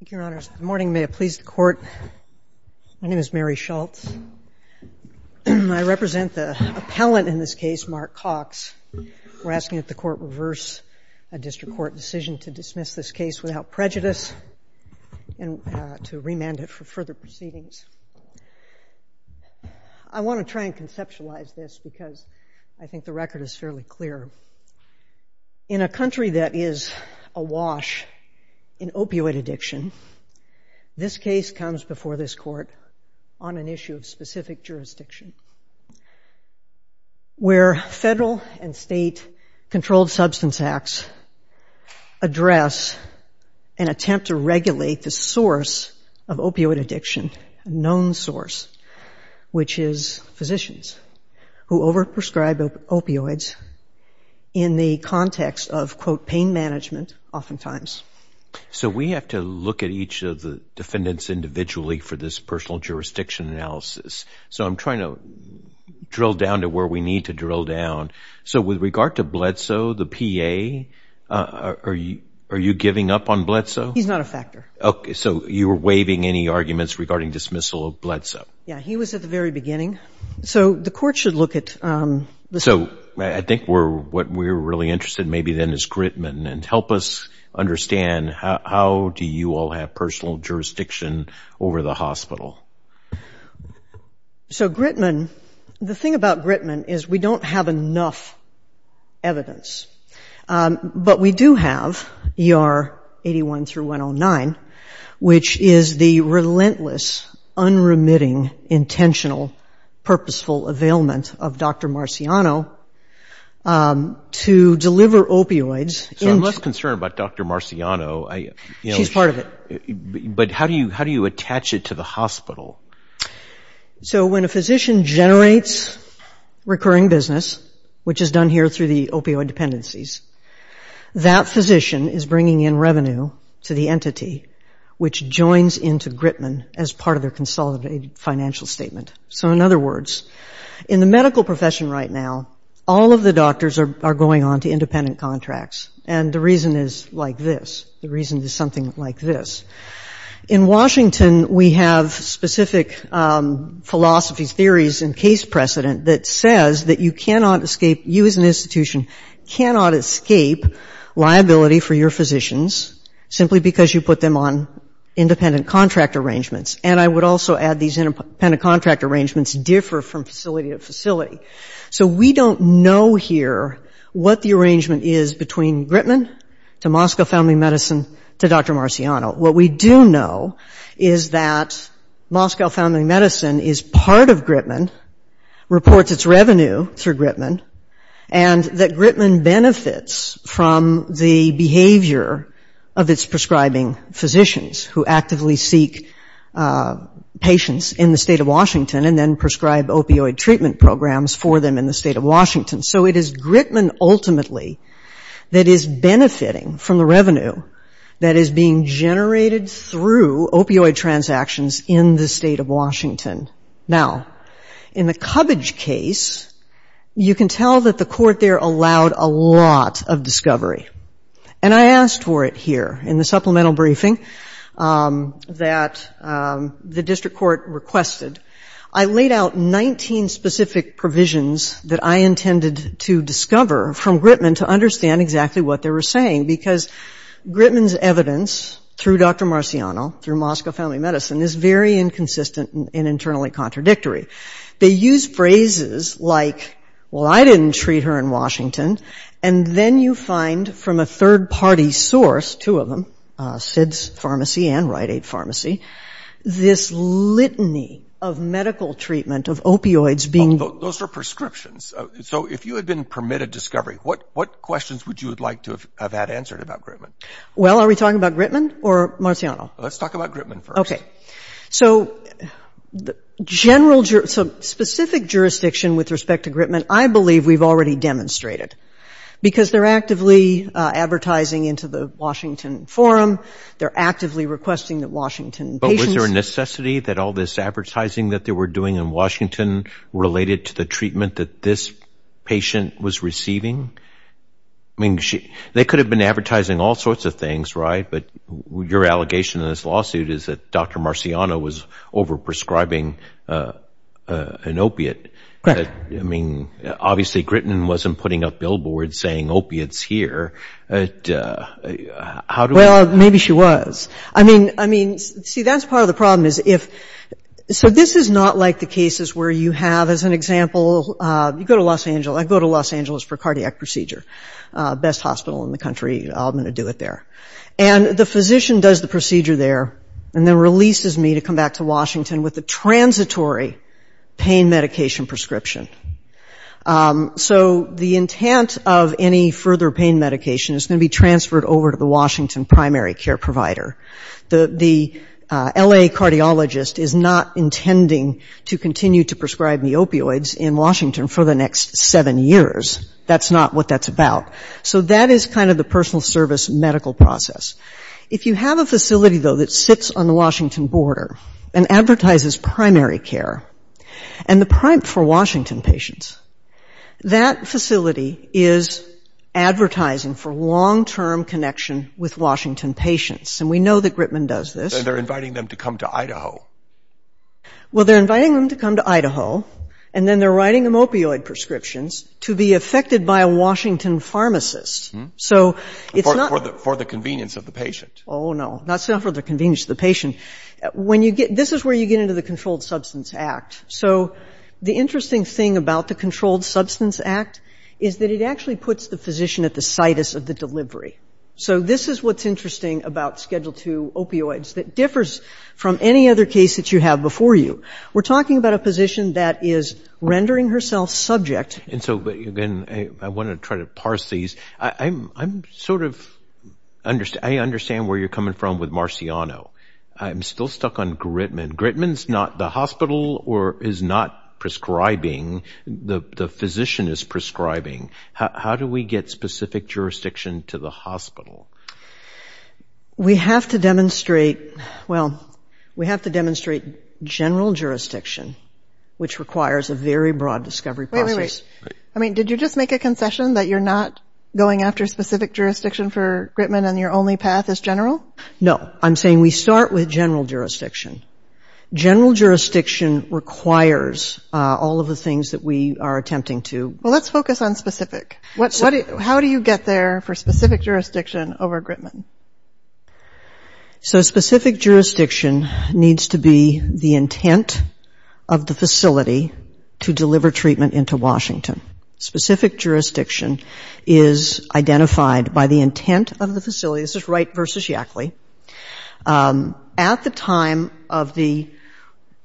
Thank you, Your Honors. Good morning. May it please the Court, my name is Mary Schultz. I represent the appellant in this case, Mark Cox. We're asking that the Court reverse a district court decision to dismiss this case without prejudice and to remand it for further proceedings. I want to try and conceptualize this because I think the record is fairly clear. In a country that is awash in opioid addiction, this case comes before this Court on an issue of specific jurisdiction, where federal and state controlled substance acts address an attempt to regulate the source of opioid addiction, a known source, which is physicians who over-prescribe opioids in the context of, quote, pain management, oftentimes. So we have to look at each of the defendants individually for this personal jurisdiction analysis. So I'm trying to drill down to where we need to drill down. So with regard to Bledsoe, the PA, are you giving up on Bledsoe? He's not a factor. Okay, so you were waiving any arguments regarding dismissal of Bledsoe? Yeah, he was at the very beginning. So the Court should look at... So I think what we're really interested in maybe then is Grittman, and help us understand how do you all have personal jurisdiction over the hospital? So Grittman, the thing about Grittman is we don't have enough evidence, but we do have ER 81 through 109, which is the relentless, unremitting, intentional, purposeful availment of Dr. Marciano to deliver opioids. So I'm less concerned about Dr. Marciano. She's part of it. But how do you how do you attach it to the hospital? So when a physician generates recurring business, which is done here through the opioid dependencies, that physician is bringing in revenue to the entity, which joins into Grittman as part of their consolidated financial statement. So in other words, in the medical profession right now, all of the doctors are going on to independent contracts. And the reason is like this. The reason is something like this. In Washington, we have specific philosophy, theories, and case precedent that says that you cannot escape, you as an institution cannot escape liability for your physicians simply because you put them on independent contract arrangements. And I would also add these independent contract arrangements differ from facility to facility. So we don't know here what the arrangement is between Grittman to Moscow Family Medicine to Dr. Marciano. What we do know is that Moscow Family Medicine is part of Grittman, reports its revenue through Grittman, and that Grittman benefits from the behavior of its prescribing physicians who actively seek patients in the state of Washington and then prescribe opioid treatment programs for them in the state of Washington. So it is Grittman ultimately that is benefiting from the revenue that is being generated through opioid transactions in the state of Washington. Now, in the Cubbage case, you can tell that the court there allowed a lot of discovery. And I asked for it here in the supplemental briefing that the district court requested. I laid out 19 specific provisions that I intended to discover from Grittman to understand exactly what they were saying, because Grittman's evidence through Dr. Marciano, through Moscow Family Medicine, is very inconsistent and internally contradictory. They use phrases like, well, I didn't treat her in Washington. And then you find from a third-party source, two of them, SIDS Pharmacy and Rite Aid Pharmacy, this litany of medical treatment of opioids being... Those are prescriptions. So if you had been permitted discovery, what questions would you would like to have had answered about Grittman? Well, are we talking about Grittman or Marciano? Let's talk about Grittman first. Okay. So the general jurisdiction, so specific jurisdiction with respect to Grittman, I believe we've already demonstrated. Because they're actively advertising into the Washington Forum. They're actively requesting that Washington patients... But was there a necessity that all this advertising that they were doing in Washington related to the treatment that this patient was receiving? I mean, they could have been advertising all sorts of things, right? But your allegation in this lawsuit is that Dr. Marciano was overprescribing an opiate. I mean, obviously Grittman wasn't putting up billboards saying, opiates here. How do I... Well, maybe she was. I mean, see, that's part of the problem is if... So this is not like the cases where you have, as an example, you go to Los Angeles. I go to Los Angeles for cardiac procedure. Best hospital in the country. I'm going to do it there. And the physician does the procedure there and then releases me to come back to Washington with a transitory pain medication prescription. So the intent of any further pain medication is going to be transferred over to the Washington primary care provider. The L.A. cardiologist is not intending to continue to prescribe me opioids in Washington for the next seven years. That's not what that's about. So that is kind of the personal service medical process. If you have a facility, though, that sits on the Washington border and advertises primary care for Washington patients, that facility is advertising for long-term connection with Washington patients. And we know that Grittman does this. And they're inviting them to come to Idaho. Well, they're inviting them to come to Idaho, and then they're writing them opioid prescriptions to be affected by a Washington pharmacist. So it's not For the convenience of the patient. Oh, no. That's not for the convenience of the patient. This is where you get into the Controlled Substance Act. So the interesting thing about the Controlled Substance Act is that it actually puts the physician at the situs of the delivery. So this is what's interesting about Schedule II opioids that differs from any other case that you have before you. We're talking about a position that is rendering herself subject. And so, again, I want to try to parse these. I'm sort of—I understand where you're coming from with Marciano. I'm still stuck on Grittman. Grittman's not the hospital or is not prescribing. The physician is prescribing. How do we get specific jurisdiction to the hospital? We have to demonstrate—well, we have to demonstrate general jurisdiction, which requires a very broad discovery process. Wait, wait, wait. I mean, did you just make a concession that you're not going after specific jurisdiction for Grittman and your only path is general? No. I'm saying we start with general jurisdiction. General jurisdiction requires all of the things that we are attempting to— Well, let's focus on specific. How do you get there for specific jurisdiction over Grittman? So specific jurisdiction needs to be the intent of the facility to deliver treatment into Washington. Specific jurisdiction is identified by the intent of the facility. This is Wright v. Yackley. At the time of the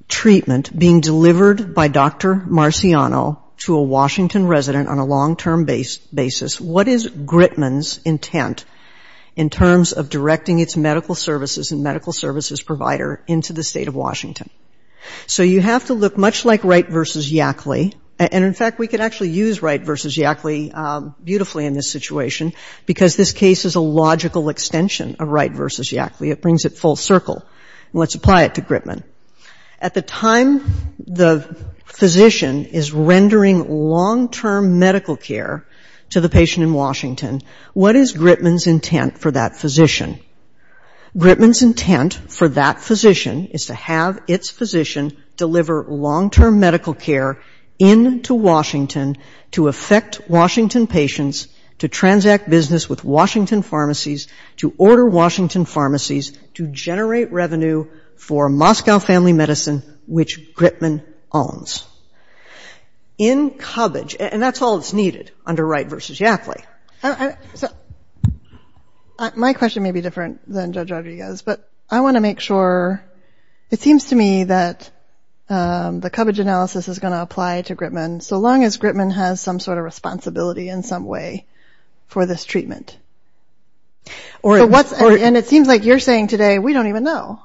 treatment being delivered by Dr. Marciano to a Washington resident on a long-term basis, what is Grittman's intent in terms of directing its medical services and medical services provider into the state of Washington? So you have to look much like Wright v. Yackley. And, in fact, we could actually use Wright v. Yackley beautifully in this situation, because this case is a logical extension of Wright v. Yackley. It brings it full circle. Let's apply it to Grittman. At the time the physician is rendering long-term medical care to the patient in Washington, what is Grittman's intent for that physician? Grittman's intent for that physician is to have its physician deliver long-term medical care into Washington to affect Washington patients, to transact business with Washington pharmacies, to order Washington pharmacies, to generate revenue for Moscow Family Medicine, which Grittman owns. In cubbage, and that's all that's needed under Wright v. Yackley. My question may be different than Judge Rodriguez, but I want to make sure, it seems to me that the cubbage analysis is going to apply to Grittman, so long as Grittman has some sort of responsibility in some way for this treatment. And it seems like you're saying today, we don't even know.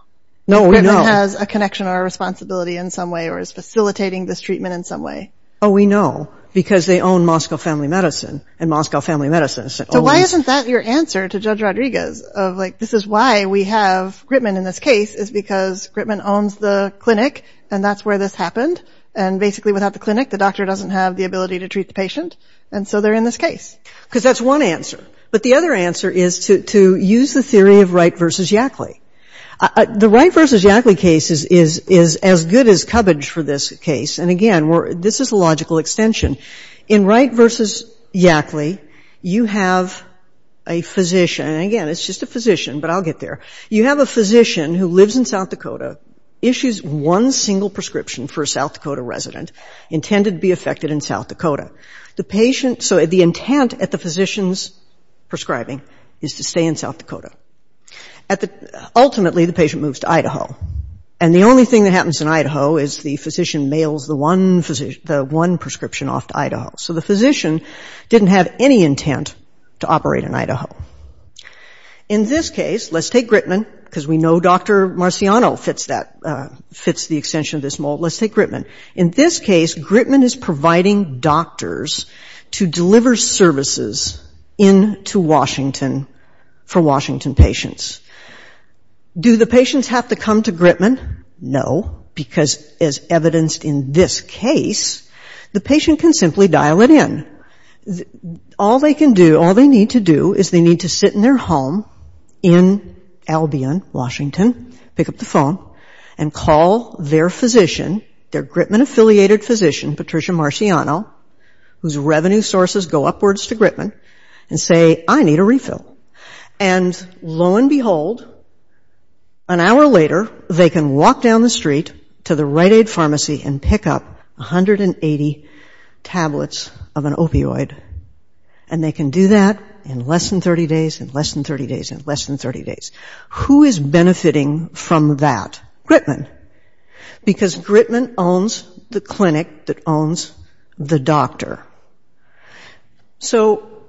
No, we know. Grittman has a connection or a responsibility in some way, or is facilitating this treatment in some way. Oh, we know, because they own Moscow Family Medicine, and Moscow Family Medicine owns... So why isn't that your answer to Judge Rodriguez, of like, this is why we have Grittman in this case, is because Grittman owns the clinic, and that's where this happened, and basically without the clinic, the doctor doesn't have the ability to treat the patient, and so they're in this case. Because that's one answer. But the other answer is to use the theory of Wright v. Yackley. The Wright v. Yackley case is as good as cubbage for this case, and again, this is a logical extension. In Wright v. Yackley, you have a physician, and again, it's just a physician, but I'll get there. You have a physician who lives in South Dakota, issues one single prescription for a South Dakota resident, intended to be affected in South Dakota. The patient, so the intent at the physician's prescribing is to stay in South Dakota. Ultimately, the patient moves to Idaho, and the only thing that happens in Idaho is the physician mails the one prescription off to Idaho. So the physician didn't have any intent to operate in Idaho. In this case, let's take Grittman, because we know Dr. Marciano fits the extension of this mold, let's take Grittman. In this case, Grittman is providing doctors to deliver services into Washington for Washington patients. Do the patients have to come to Grittman? No, because as evidenced in this case, the patient can simply dial it in. All they can do, all they need to do is they need to sit in their home in Albion, Washington, pick up the phone, and call their physician, their Grittman-affiliated physician, Patricia Marciano, whose revenue sources go upwards to Grittman, and say, I need a refill. And lo and behold, an hour later, they can walk down the street to the Rite Aid pharmacy and pick up 180 tablets of an opioid. And they can do that in less than 30 days, in less than 30 days, in less than 30 days. Who is benefiting from that? Because Grittman owns the clinic that owns the doctor. So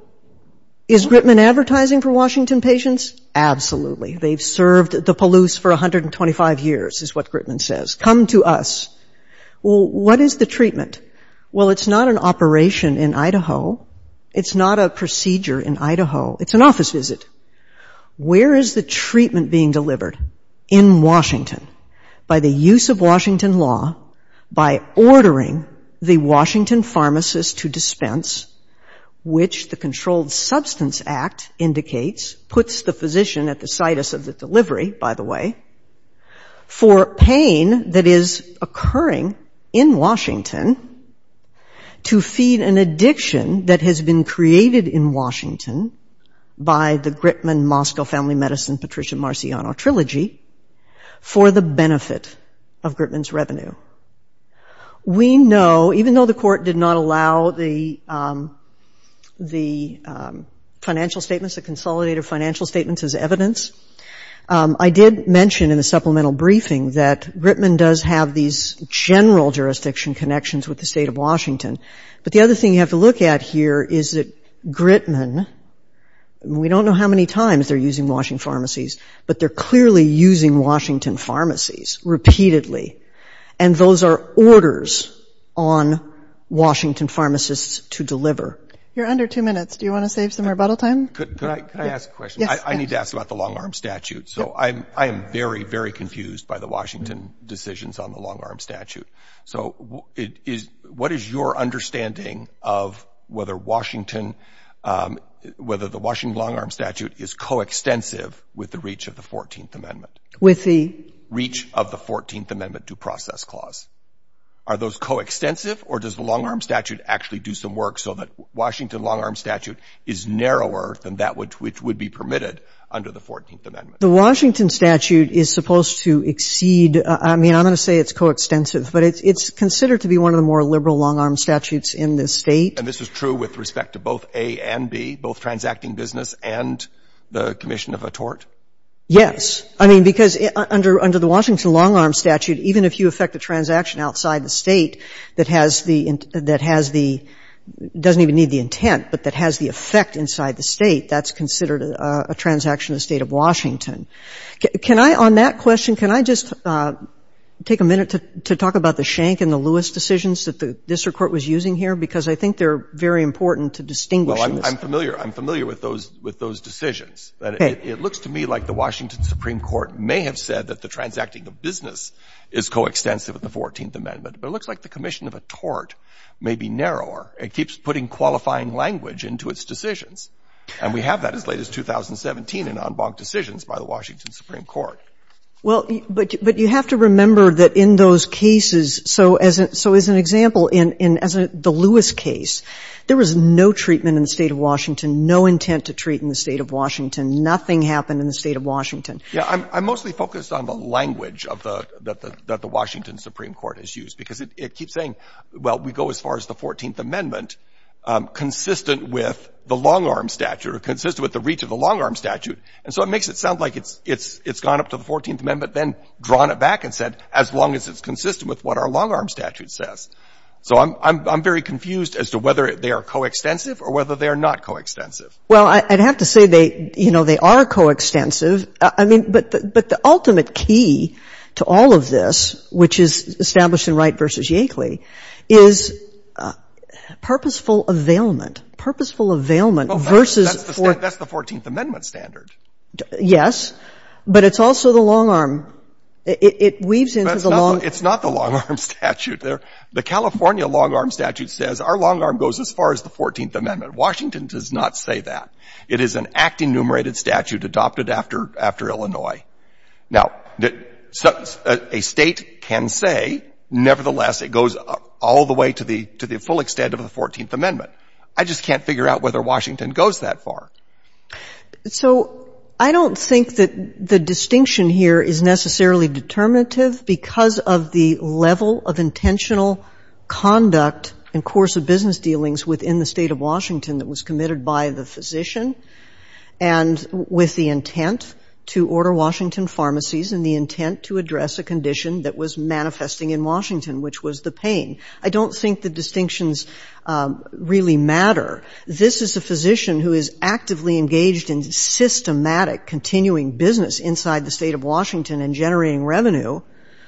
is Grittman advertising for Washington patients? Absolutely. They've served the Palouse for 125 years, is what Grittman says. Come to us. Well, what is the treatment? Well, it's not an operation in Idaho. It's not a procedure in Idaho. It's an office visit. Where is the treatment being delivered? In Washington. By the use of Washington law, by ordering the Washington pharmacist to dispense, which the Controlled Substance Act indicates, puts the physician at the situs of the delivery, by the way, for pain that is occurring in Washington to feed an addiction that has been created in the Grittman-Moscow Family Medicine-Patricia Marciano Trilogy for the benefit of Grittman's revenue. We know, even though the court did not allow the financial statements, the consolidated financial statements as evidence, I did mention in the supplemental briefing that Grittman does have these general jurisdiction connections with the state of Washington. But the other thing you have to look at here is that Grittman, we don't know how many times they're using Washington pharmacies, but they're clearly using Washington pharmacies repeatedly. And those are orders on Washington pharmacists to deliver. You're under two minutes. Do you want to save some rebuttal time? Could I ask a question? Yes. I need to ask about the long-arm statute. So I am very, very confused by the Washington decisions on the long-arm statute. So what is your understanding of whether Washington, whether the Washington long-arm statute is coextensive with the reach of the 14th Amendment? With the? Reach of the 14th Amendment due process clause. Are those coextensive, or does the long-arm statute actually do some work so that Washington long-arm statute is narrower than that which would be permitted under the 14th Amendment? The Washington statute is supposed to exceed — I mean, I'm going to say it's coextensive, but it's considered to be one of the more liberal long-arm statutes in this State. And this is true with respect to both A and B, both transacting business and the commission of a tort? Yes. I mean, because under the Washington long-arm statute, even if you effect a transaction outside the State that has the — that has the — doesn't even need the intent, but that has the effect inside the State, that's considered a transaction in the State of Washington. Can I, on that question, can I just take a minute to talk about the Schenck and the Well, I'm familiar. I'm familiar with those — with those decisions. Okay. It looks to me like the Washington Supreme Court may have said that the transacting of business is coextensive with the 14th Amendment, but it looks like the commission of a tort may be narrower. It keeps putting qualifying language into its decisions. And we have that as late as 2017 in en banc decisions by the Washington Supreme Court. Well, but you have to remember that in those cases — so as an — so as an example, in the Lewis case, there was no treatment in the State of Washington, no intent to treat in the State of Washington. Nothing happened in the State of Washington. I'm mostly focused on the language of the — that the Washington Supreme Court has used, because it keeps saying, well, we go as far as the 14th Amendment, consistent with the long-arm statute, or consistent with the reach of the long-arm statute. And so it makes it sound like it's gone up to the 14th Amendment, then drawn it back and said, as long as it's consistent with what our long-arm statute says. So I'm very confused as to whether they are coextensive or whether they are not coextensive. Well, I'd have to say they, you know, they are coextensive. I mean, but the ultimate key to all of this, which is established in Wright v. Yakeley, is purposeful availment. Purposeful availment versus — Well, that's the 14th Amendment standard. Yes. But it's also the long-arm. It weaves into the long — It's not the long-arm statute. The California long-arm statute says our long-arm goes as far as the 14th Amendment. Washington does not say that. It is an act-enumerated statute adopted after Illinois. Now, a State can say, nevertheless, it goes all the way to the full extent of the 14th Amendment. I just can't figure out whether Washington goes that far. So I don't think that the distinction here is necessarily determinative because of the level of intentional conduct and course of business dealings within the State of Washington that was committed by the physician and with the intent to order Washington pharmacies and the intent to address a condition that was manifesting in Washington, which was the pain. I don't think the distinctions really matter. This is a physician who is actively engaged in systematic continuing business inside the State of Washington and generating revenue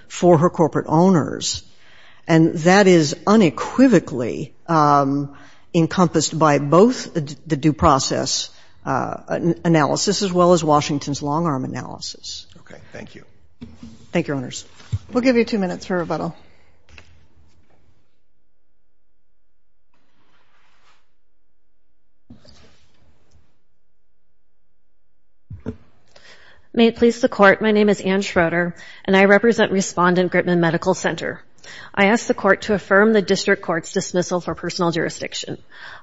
for her corporate owners. And that is unequivocally encompassed by both the due process analysis as well as Washington's long-arm analysis. Okay. Thank you. Thank you, owners. We'll give you two minutes for rebuttal. May it please the Court, my name is Ann Schroeder and I represent Respondent Gritman Medical Center. I ask the Court to affirm the District Court's dismissal for personal jurisdiction.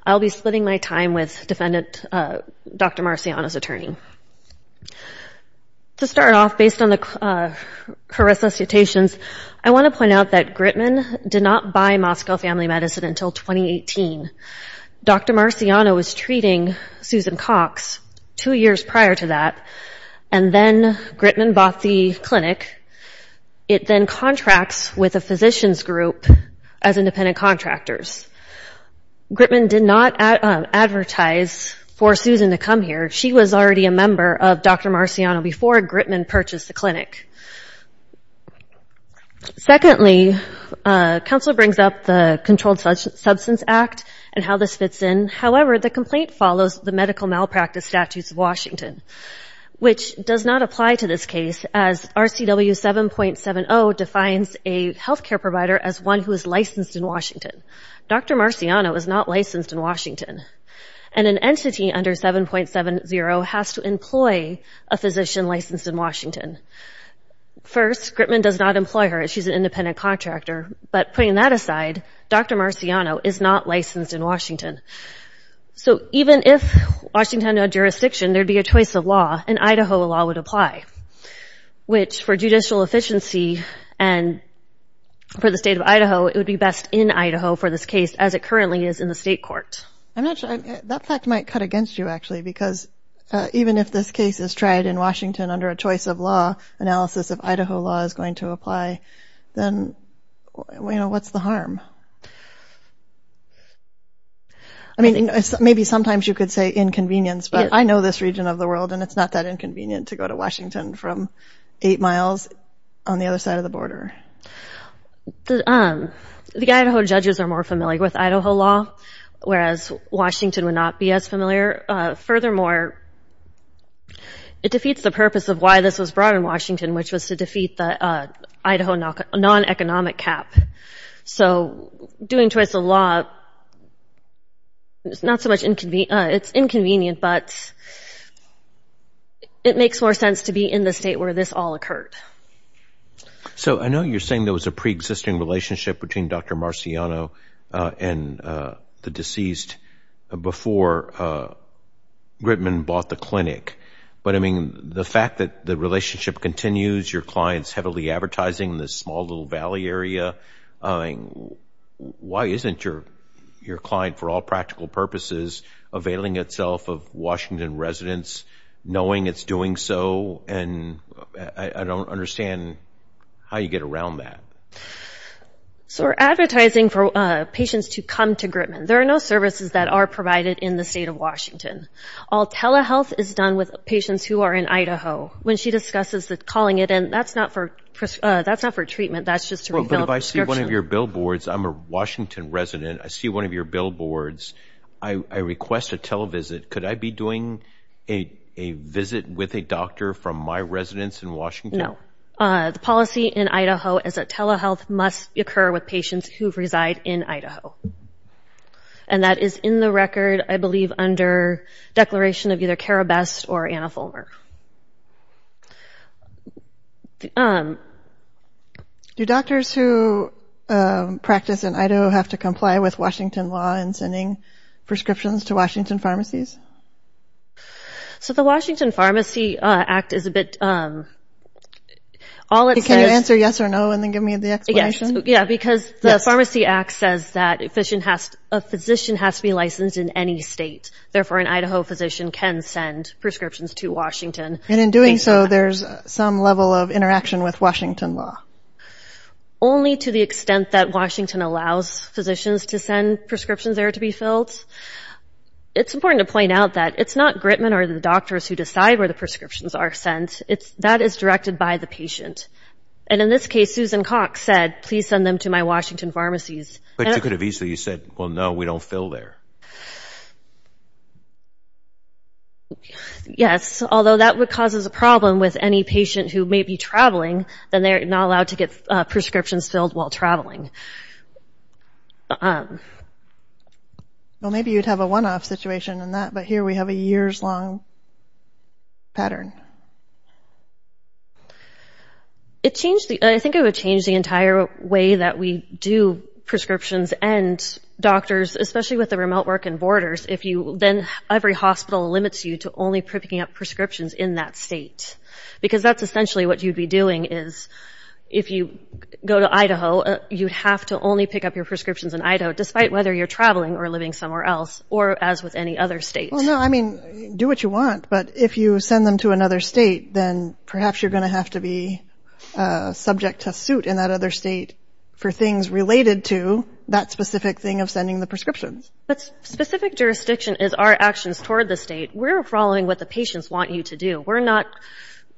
I'll be splitting my time with Defendant Dr. Marciano's attorney. To start off, based on her resuscitations, I want to point out that Gritman did not buy Moscow Family Medicine until 2018. Dr. Marciano was treating Susan Cox two years prior to that, and then Gritman bought the clinic. It then contracts with a physician's group as independent contractors. Gritman did not advertise for Susan to come here. She was already a member of Dr. Marciano before Gritman purchased the clinic. Secondly, counsel brings up the Controlled Substance Act and how this fits in. However, the complaint follows the medical malpractice statutes of Washington, which does not apply to this case, as RCW 7.70 defines a healthcare provider as one who is not licensed in Washington. And an entity under 7.70 has to employ a physician licensed in Washington. First, Gritman does not employ her as she's an independent contractor, but putting that aside, Dr. Marciano is not licensed in Washington. So even if Washington had jurisdiction, there'd be a choice of law, and Idaho law would apply, which for judicial efficiency and for the state of Idaho, it would be best in Idaho for this case, as it currently is in the state court. I'm not sure. That fact might cut against you, actually, because even if this case is tried in Washington under a choice of law, analysis of Idaho law is going to apply. Then, you know, what's the harm? I mean, maybe sometimes you could say inconvenience, but I know this region of the world, and it's not that inconvenient to go to Washington from eight miles on the other side of the border. The Idaho judges are more familiar with Idaho law, whereas Washington would not be as familiar. Furthermore, it defeats the purpose of why this was brought in Washington, which was to defeat the Idaho non-economic cap. So doing choice of law is not so much inconvenient, but it makes more sense to be in the state where this all occurred. So I know you're saying there was a preexisting relationship between Dr. Marciano and the deceased before Gritman bought the clinic, but, I mean, the fact that the relationship continues, your clients heavily advertising in this small little valley area, why isn't your client, for all practical purposes, availing itself of Washington residents, knowing it's doing so? And I don't understand how you get around that. So we're advertising for patients to come to Gritman. There are no services that are provided in the state of Washington. All telehealth is done with patients who are in Idaho. When she discusses calling it in, that's not for treatment, that's just to refill prescription. Well, but if I see one of your billboards, I'm a Washington resident, I see one of your billboards, I request a televisit. Could I be doing a visit with a doctor from my residence in Washington? No. The policy in Idaho is that telehealth must occur with patients who reside in Idaho. And that is in the record, I believe, under declaration of either Cara Best or Anna Fulmer. Do doctors who practice in Idaho have to comply with Washington law in sending prescriptions to Washington pharmacies? So the Washington Pharmacy Act is a bit... Can you answer yes or no and then give me the explanation? Yeah, because the Pharmacy Act says that a physician has to be licensed in any state. Therefore, an Idaho physician can send prescriptions to Washington. And in doing so, there's some level of interaction with Washington law? Only to the extent that Washington allows physicians to send prescriptions there to be filled. It's important to point out that it's not Gritman or the doctors who decide where the prescriptions are sent. That is directed by the patient. And in this case, Susan Cox said, please send them to my Washington pharmacies. But you could have easily said, well, no, we don't fill there. Yes, although that would cause us a problem with any patient who may be traveling, then they're not allowed to get prescriptions filled while traveling. Well, maybe you'd have a one-off situation in that, but here we have a years-long pattern. I think it would change the entire way that we do prescriptions. And doctors, especially with the remote work and borders, then every hospital limits you to only picking up prescriptions in that state. Because that's essentially what you'd be doing is if you go to Idaho, you'd have to only pick up your prescriptions in Idaho, despite whether you're traveling or living somewhere else, or as with any other state. Well, no, I mean, do what you want. But if you send them to another state, then perhaps you're going to have to be subject to suit in that other state for things related to that specific thing of sending the prescriptions. But specific jurisdiction is our actions toward the state. We're following what the patients want you to do. We're not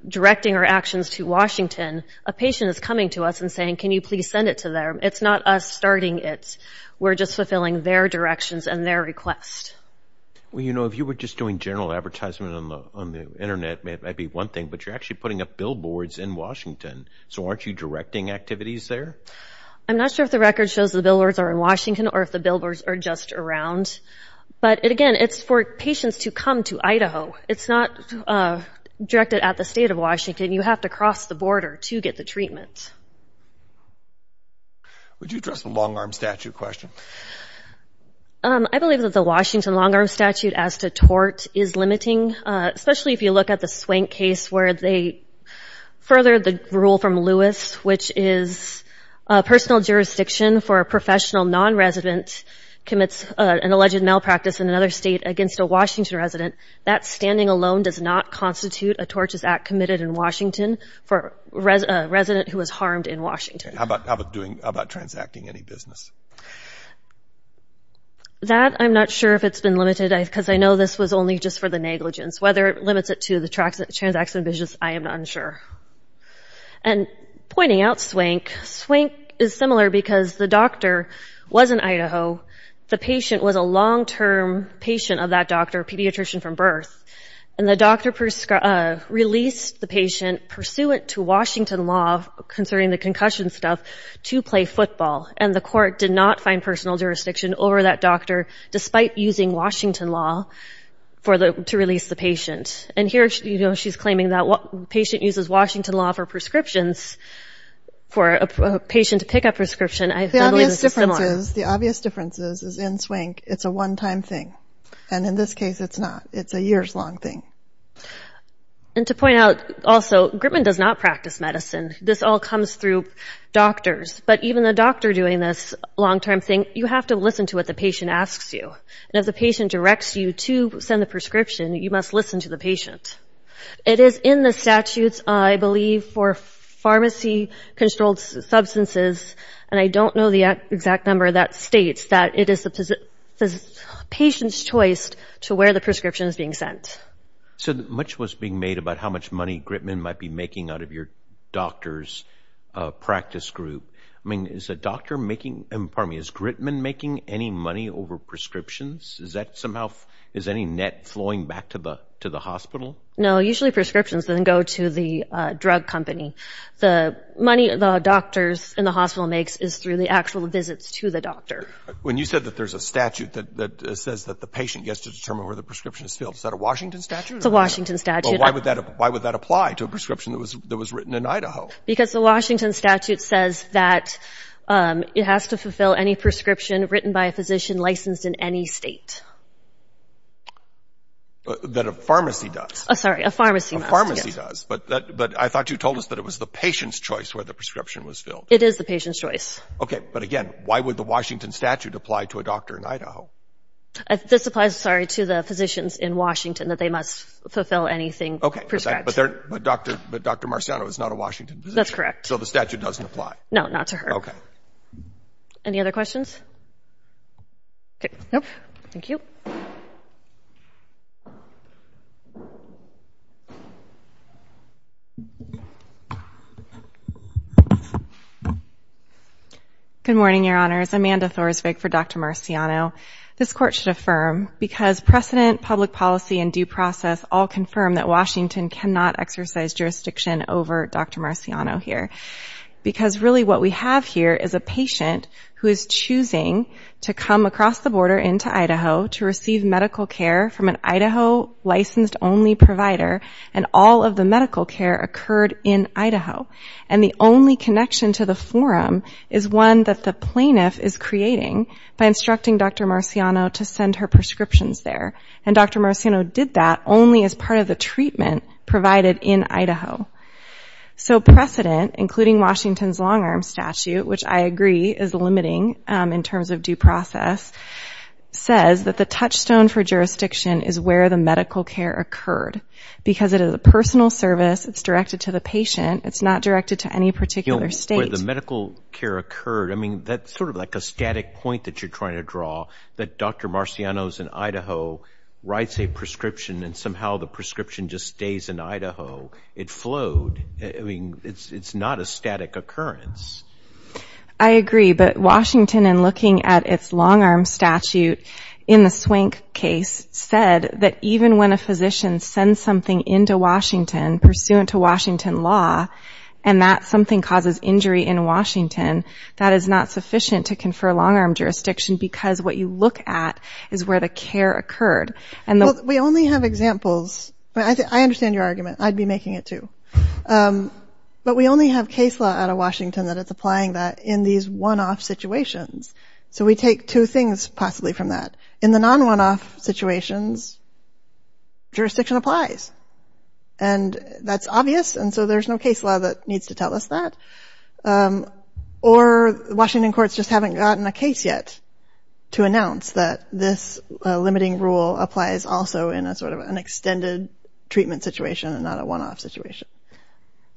directing our actions to Washington. A patient is coming to us and saying, can you please send it to them? It's not us starting it. We're just fulfilling their directions and their request. Well, you know, if you were just doing general advertisement on the Internet, that might be one thing. But you're actually putting up billboards in Washington. So aren't you directing activities there? I'm not sure if the record shows the billboards are in Washington or if the billboards are just around. But, again, it's for patients to come to Idaho. It's not directed at the state of Washington. You have to cross the border to get the treatment. Would you address the long-arm statute question? I believe that the Washington long-arm statute as to tort is limiting, especially if you look at the Swank case where they furthered the rule from Lewis, which is personal jurisdiction for a professional non-resident commits an alleged malpractice in another state against a Washington resident. That standing alone does not constitute a tortious act committed in Washington for a resident who was harmed in Washington. How about transacting any business? That I'm not sure if it's been limited because I know this was only just for the negligence. Whether it limits it to the transaction business, I am not sure. And pointing out Swank, Swank is similar because the doctor was in Idaho. The patient was a long-term patient of that doctor, a pediatrician from birth. And the doctor released the patient pursuant to Washington law concerning the concussion stuff to play football, and the court did not find personal jurisdiction over that doctor despite using Washington law to release the patient. And here she's claiming that patient uses Washington law for prescriptions for a patient to pick up prescription. I believe it's similar. The obvious difference is in Swank it's a one-time thing, and in this case it's not. And to point out also, Gritman does not practice medicine. This all comes through doctors. But even the doctor doing this long-term thing, you have to listen to what the patient asks you. And if the patient directs you to send the prescription, you must listen to the patient. It is in the statutes, I believe, for pharmacy-controlled substances, and I don't know the exact number that states that it is the patient's choice to where the prescription is being sent. So much was being made about how much money Gritman might be making out of your doctor's practice group. I mean, is a doctor making – pardon me, is Gritman making any money over prescriptions? Is that somehow – is any net flowing back to the hospital? No, usually prescriptions then go to the drug company. The money the doctors in the hospital makes is through the actual visits to the doctor. When you said that there's a statute that says that the patient gets to determine where the prescription is filled, is that a Washington statute? It's a Washington statute. Well, why would that apply to a prescription that was written in Idaho? Because the Washington statute says that it has to fulfill any prescription written by a physician licensed in any state. That a pharmacy does. Sorry, a pharmacy must. A pharmacy does. But I thought you told us that it was the patient's choice where the prescription was filled. It is the patient's choice. Okay, but again, why would the Washington statute apply to a doctor in Idaho? This applies, sorry, to the physicians in Washington that they must fulfill anything prescribed. Okay, but Dr. Marciano is not a Washington physician. That's correct. So the statute doesn't apply. No, not to her. Okay. Any other questions? Okay. Nope. Thank you. Good morning, Your Honors. Amanda Thorsvig for Dr. Marciano. This Court should affirm because precedent, public policy, and due process all confirm that Washington cannot exercise jurisdiction over Dr. Marciano here. Because really what we have here is a patient who is choosing to come across the border into Idaho to receive medical care from an Idaho licensed only provider, and all of the medical care occurred in Idaho. And the only connection to the forum is one that the plaintiff is creating by instructing Dr. Marciano to send her prescriptions there. And Dr. Marciano did that only as part of the treatment provided in Idaho. So precedent, including Washington's long-arm statute, which I agree is limiting in terms of due process, says that the touchstone for jurisdiction is where the medical care occurred. Because it is a personal service. It's directed to the patient. It's not directed to any particular state. Where the medical care occurred. I mean, that's sort of like a static point that you're trying to draw, that Dr. Marciano is in Idaho, writes a prescription, and somehow the prescription just stays in Idaho. It flowed. I mean, it's not a static occurrence. I agree. But Washington, in looking at its long-arm statute in the Swank case, said that even when a physician sends something into Washington, pursuant to Washington law, and that something causes injury in Washington, that is not sufficient to confer long-arm jurisdiction because what you look at is where the care occurred. Well, we only have examples. I understand your argument. I'd be making it too. But we only have case law out of Washington that is applying that in these one-off situations. So we take two things possibly from that. In the non-one-off situations, jurisdiction applies. And that's obvious, and so there's no case law that needs to tell us that. Or Washington courts just haven't gotten a case yet to announce that this limiting rule applies also in a sort of an extended treatment situation and not a one-off situation.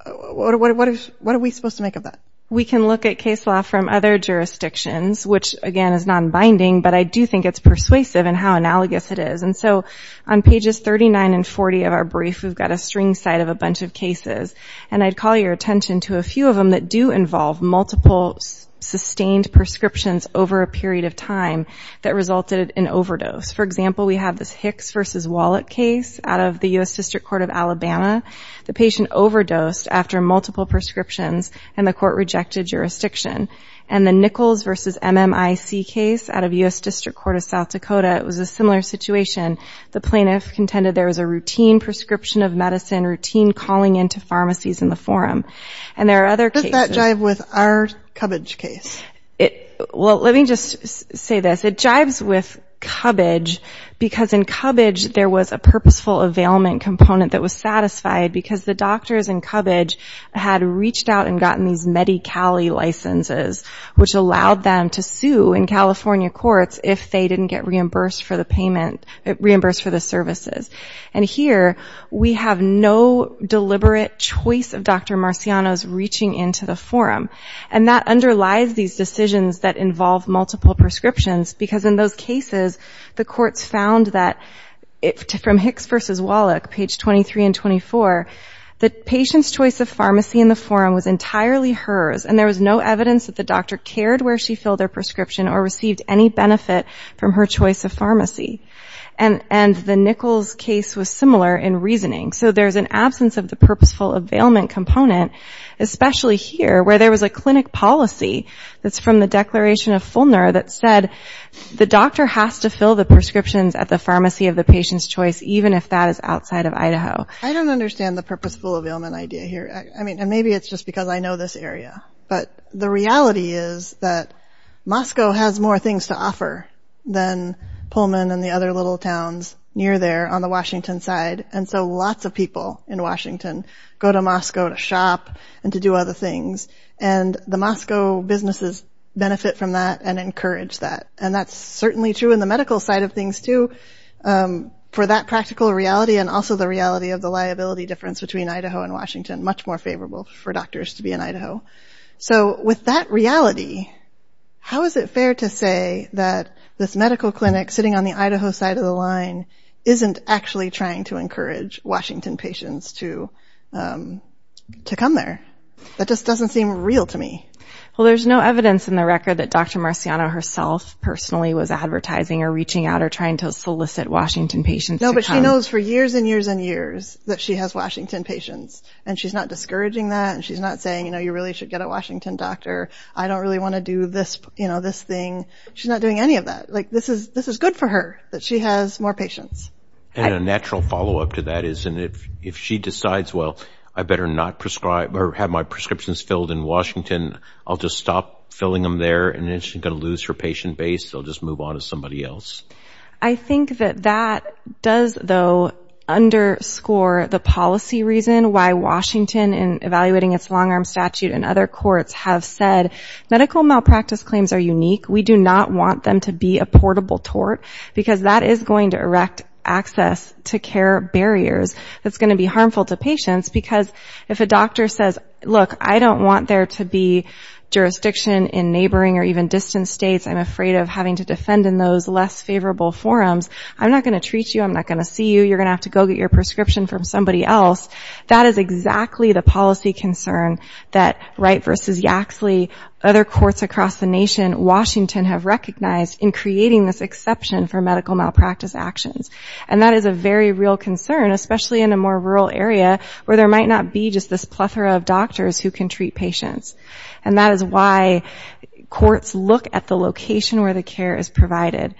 What are we supposed to make of that? We can look at case law from other jurisdictions, which, again, is non-binding, but I do think it's persuasive in how analogous it is. And so on pages 39 and 40 of our brief, we've got a string site of a bunch of cases, and I'd call your attention to a few of them that do involve multiple sustained prescriptions over a period of time that resulted in overdose. For example, we have this Hicks v. Wallet case out of the U.S. District Court of Alabama. The patient overdosed after multiple prescriptions, and the court rejected jurisdiction. And the Nichols v. MMIC case out of U.S. District Court of South Dakota, it was a similar situation. The plaintiff contended there was a routine prescription of medicine, routine calling into pharmacies in the forum. And there are other cases. Does that jive with our Cubbage case? Well, let me just say this. It jives with Cubbage because in Cubbage there was a purposeful availment component that was satisfied because the doctors in Cubbage had reached out and gotten these Medi-Cali licenses, which allowed them to sue in California courts if they didn't get reimbursed for the payment, reimbursed for the services. And here we have no deliberate choice of Dr. Marciano's reaching into the forum. And that underlies these decisions that involve multiple prescriptions because in those cases the courts found that from Hicks v. Wallach, page 23 and 24, the patient's choice of pharmacy in the forum was entirely hers, and there was no evidence that the doctor cared where she filled her prescription or received any benefit from her choice of pharmacy. And the Nichols case was similar in reasoning. So there's an absence of the purposeful availment component, especially here where there was a clinic policy that's from the Declaration of Fulner that said the doctor has to fill the prescriptions at the pharmacy of the patient's choice, even if that is outside of Idaho. I don't understand the purposeful availment idea here. I mean, and maybe it's just because I know this area. But the reality is that Moscow has more things to offer than Pullman and the other little towns near there on the Washington side. And so lots of people in Washington go to Moscow to shop and to do other things. And the Moscow businesses benefit from that and encourage that. And that's certainly true in the medical side of things, too, for that practical reality and also the reality of the liability difference between Idaho and Washington, much more favorable for doctors to be in Idaho. So with that reality, how is it fair to say that this medical clinic sitting on the Idaho side of the line isn't actually trying to encourage Washington patients to come there? That just doesn't seem real to me. Well, there's no evidence in the record that Dr. Marciano herself personally was advertising or reaching out or trying to solicit Washington patients to come. No, but she knows for years and years and years that she has Washington patients. And she's not discouraging that and she's not saying, you know, you really should get a Washington doctor. I don't really want to do this, you know, this thing. She's not doing any of that. Like, this is good for her that she has more patients. And a natural follow-up to that is if she decides, well, I better not prescribe or have my prescriptions filled in Washington, I'll just stop filling them there and then she's going to lose her patient base. They'll just move on to somebody else. I think that that does, though, underscore the policy reason why Washington, in evaluating its long-arm statute and other courts, have said, medical malpractice claims are unique. We do not want them to be a portable tort because that is going to erect access to care barriers. It's going to be harmful to patients because if a doctor says, look, I don't want there to be jurisdiction in neighboring or even distant states. I'm afraid of having to defend in those less favorable forums. I'm not going to treat you. I'm not going to see you. You're going to have to go get your prescription from somebody else. That is exactly the policy concern that Wright v. Yaxley, other courts across the nation, Washington have recognized in creating this exception for medical malpractice actions. And that is a very real concern, especially in a more rural area where there might not be just this plethora of doctors who can treat patients. And that is why courts look at the location where the care is provided.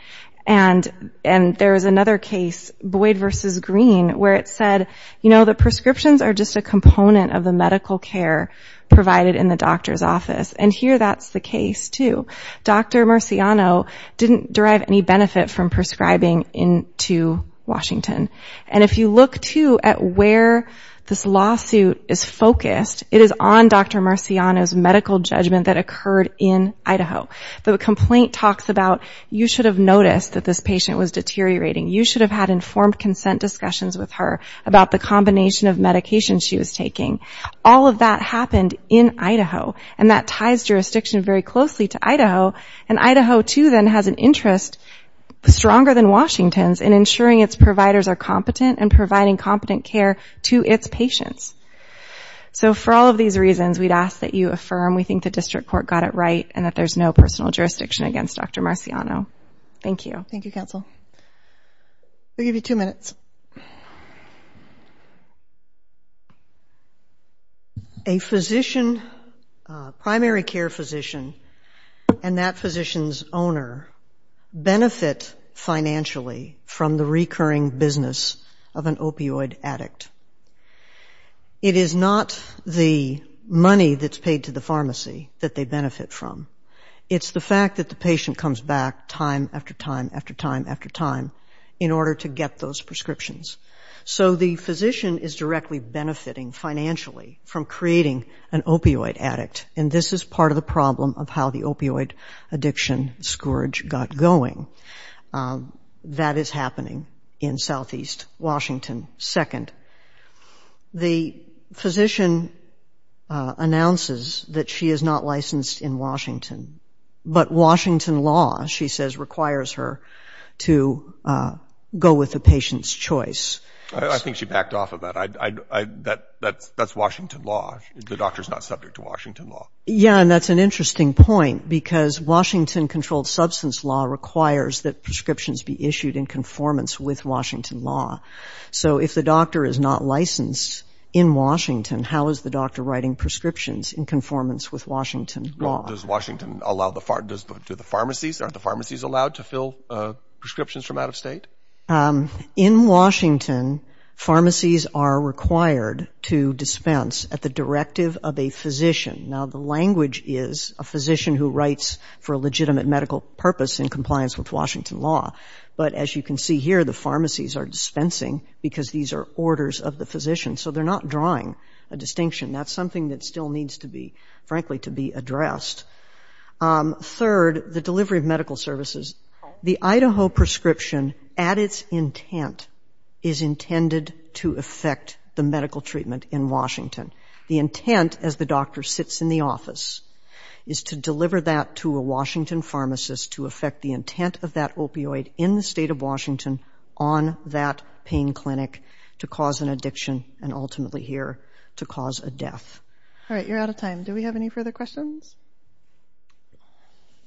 And there is another case, Boyd v. Green, where it said, you know, the prescriptions are just a component of the medical care provided in the doctor's office. And here that's the case, too. Dr. Marciano didn't derive any benefit from prescribing into Washington. And if you look, too, at where this lawsuit is focused, it is on Dr. Marciano's medical judgment that occurred in Idaho. The complaint talks about you should have noticed that this patient was deteriorating. You should have had informed consent discussions with her about the combination of medications she was taking. All of that happened in Idaho, and that ties jurisdiction very closely to Idaho. And Idaho, too, then has an interest, stronger than Washington's, in ensuring its providers are competent and providing competent care to its patients. So for all of these reasons, we'd ask that you affirm we think the district court got it right and that there's no personal jurisdiction against Dr. Marciano. Thank you. Thank you, counsel. We'll give you two minutes. A physician, primary care physician, and that physician's owner benefit financially from the recurring business of an opioid addict. It is not the money that's paid to the pharmacy that they benefit from. It's the fact that the patient comes back time after time after time after time in order to get those prescriptions. So the physician is directly benefiting financially from creating an opioid addict, and this is part of the problem of how the opioid addiction scourge got going. That is happening in southeast Washington. Second, the physician announces that she is not licensed in Washington, but Washington law, she says, requires her to go with the patient's choice. I think she backed off of that. That's Washington law. The doctor's not subject to Washington law. Yeah, and that's an interesting point, because Washington-controlled substance law requires that prescriptions be issued in conformance with Washington law. So if the doctor is not licensed in Washington, how is the doctor writing prescriptions in conformance with Washington law? Does Washington allow the pharmacies, aren't the pharmacies allowed to fill prescriptions from out of state? In Washington, pharmacies are required to dispense at the directive of a physician. Now, the language is a physician who writes for a legitimate medical purpose in compliance with Washington law. But as you can see here, the pharmacies are dispensing, because these are orders of the physician. So they're not drawing a distinction. That's something that still needs to be, frankly, to be addressed. Third, the delivery of medical services. The Idaho prescription, at its intent, is intended to affect the medical treatment in Washington. The intent, as the doctor sits in the office, is to deliver that to a Washington pharmacist to affect the intent of that opioid in the state of Washington on that pain clinic to cause an addiction and ultimately, here, to cause a death. All right, you're out of time. Do we have any further questions?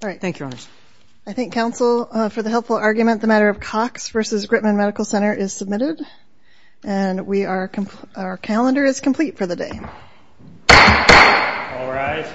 All right. Thank you, Your Honors. I thank counsel for the helpful argument. The matter of Cox v. Gritman Medical Center is submitted, and our calendar is complete for the day. All rise.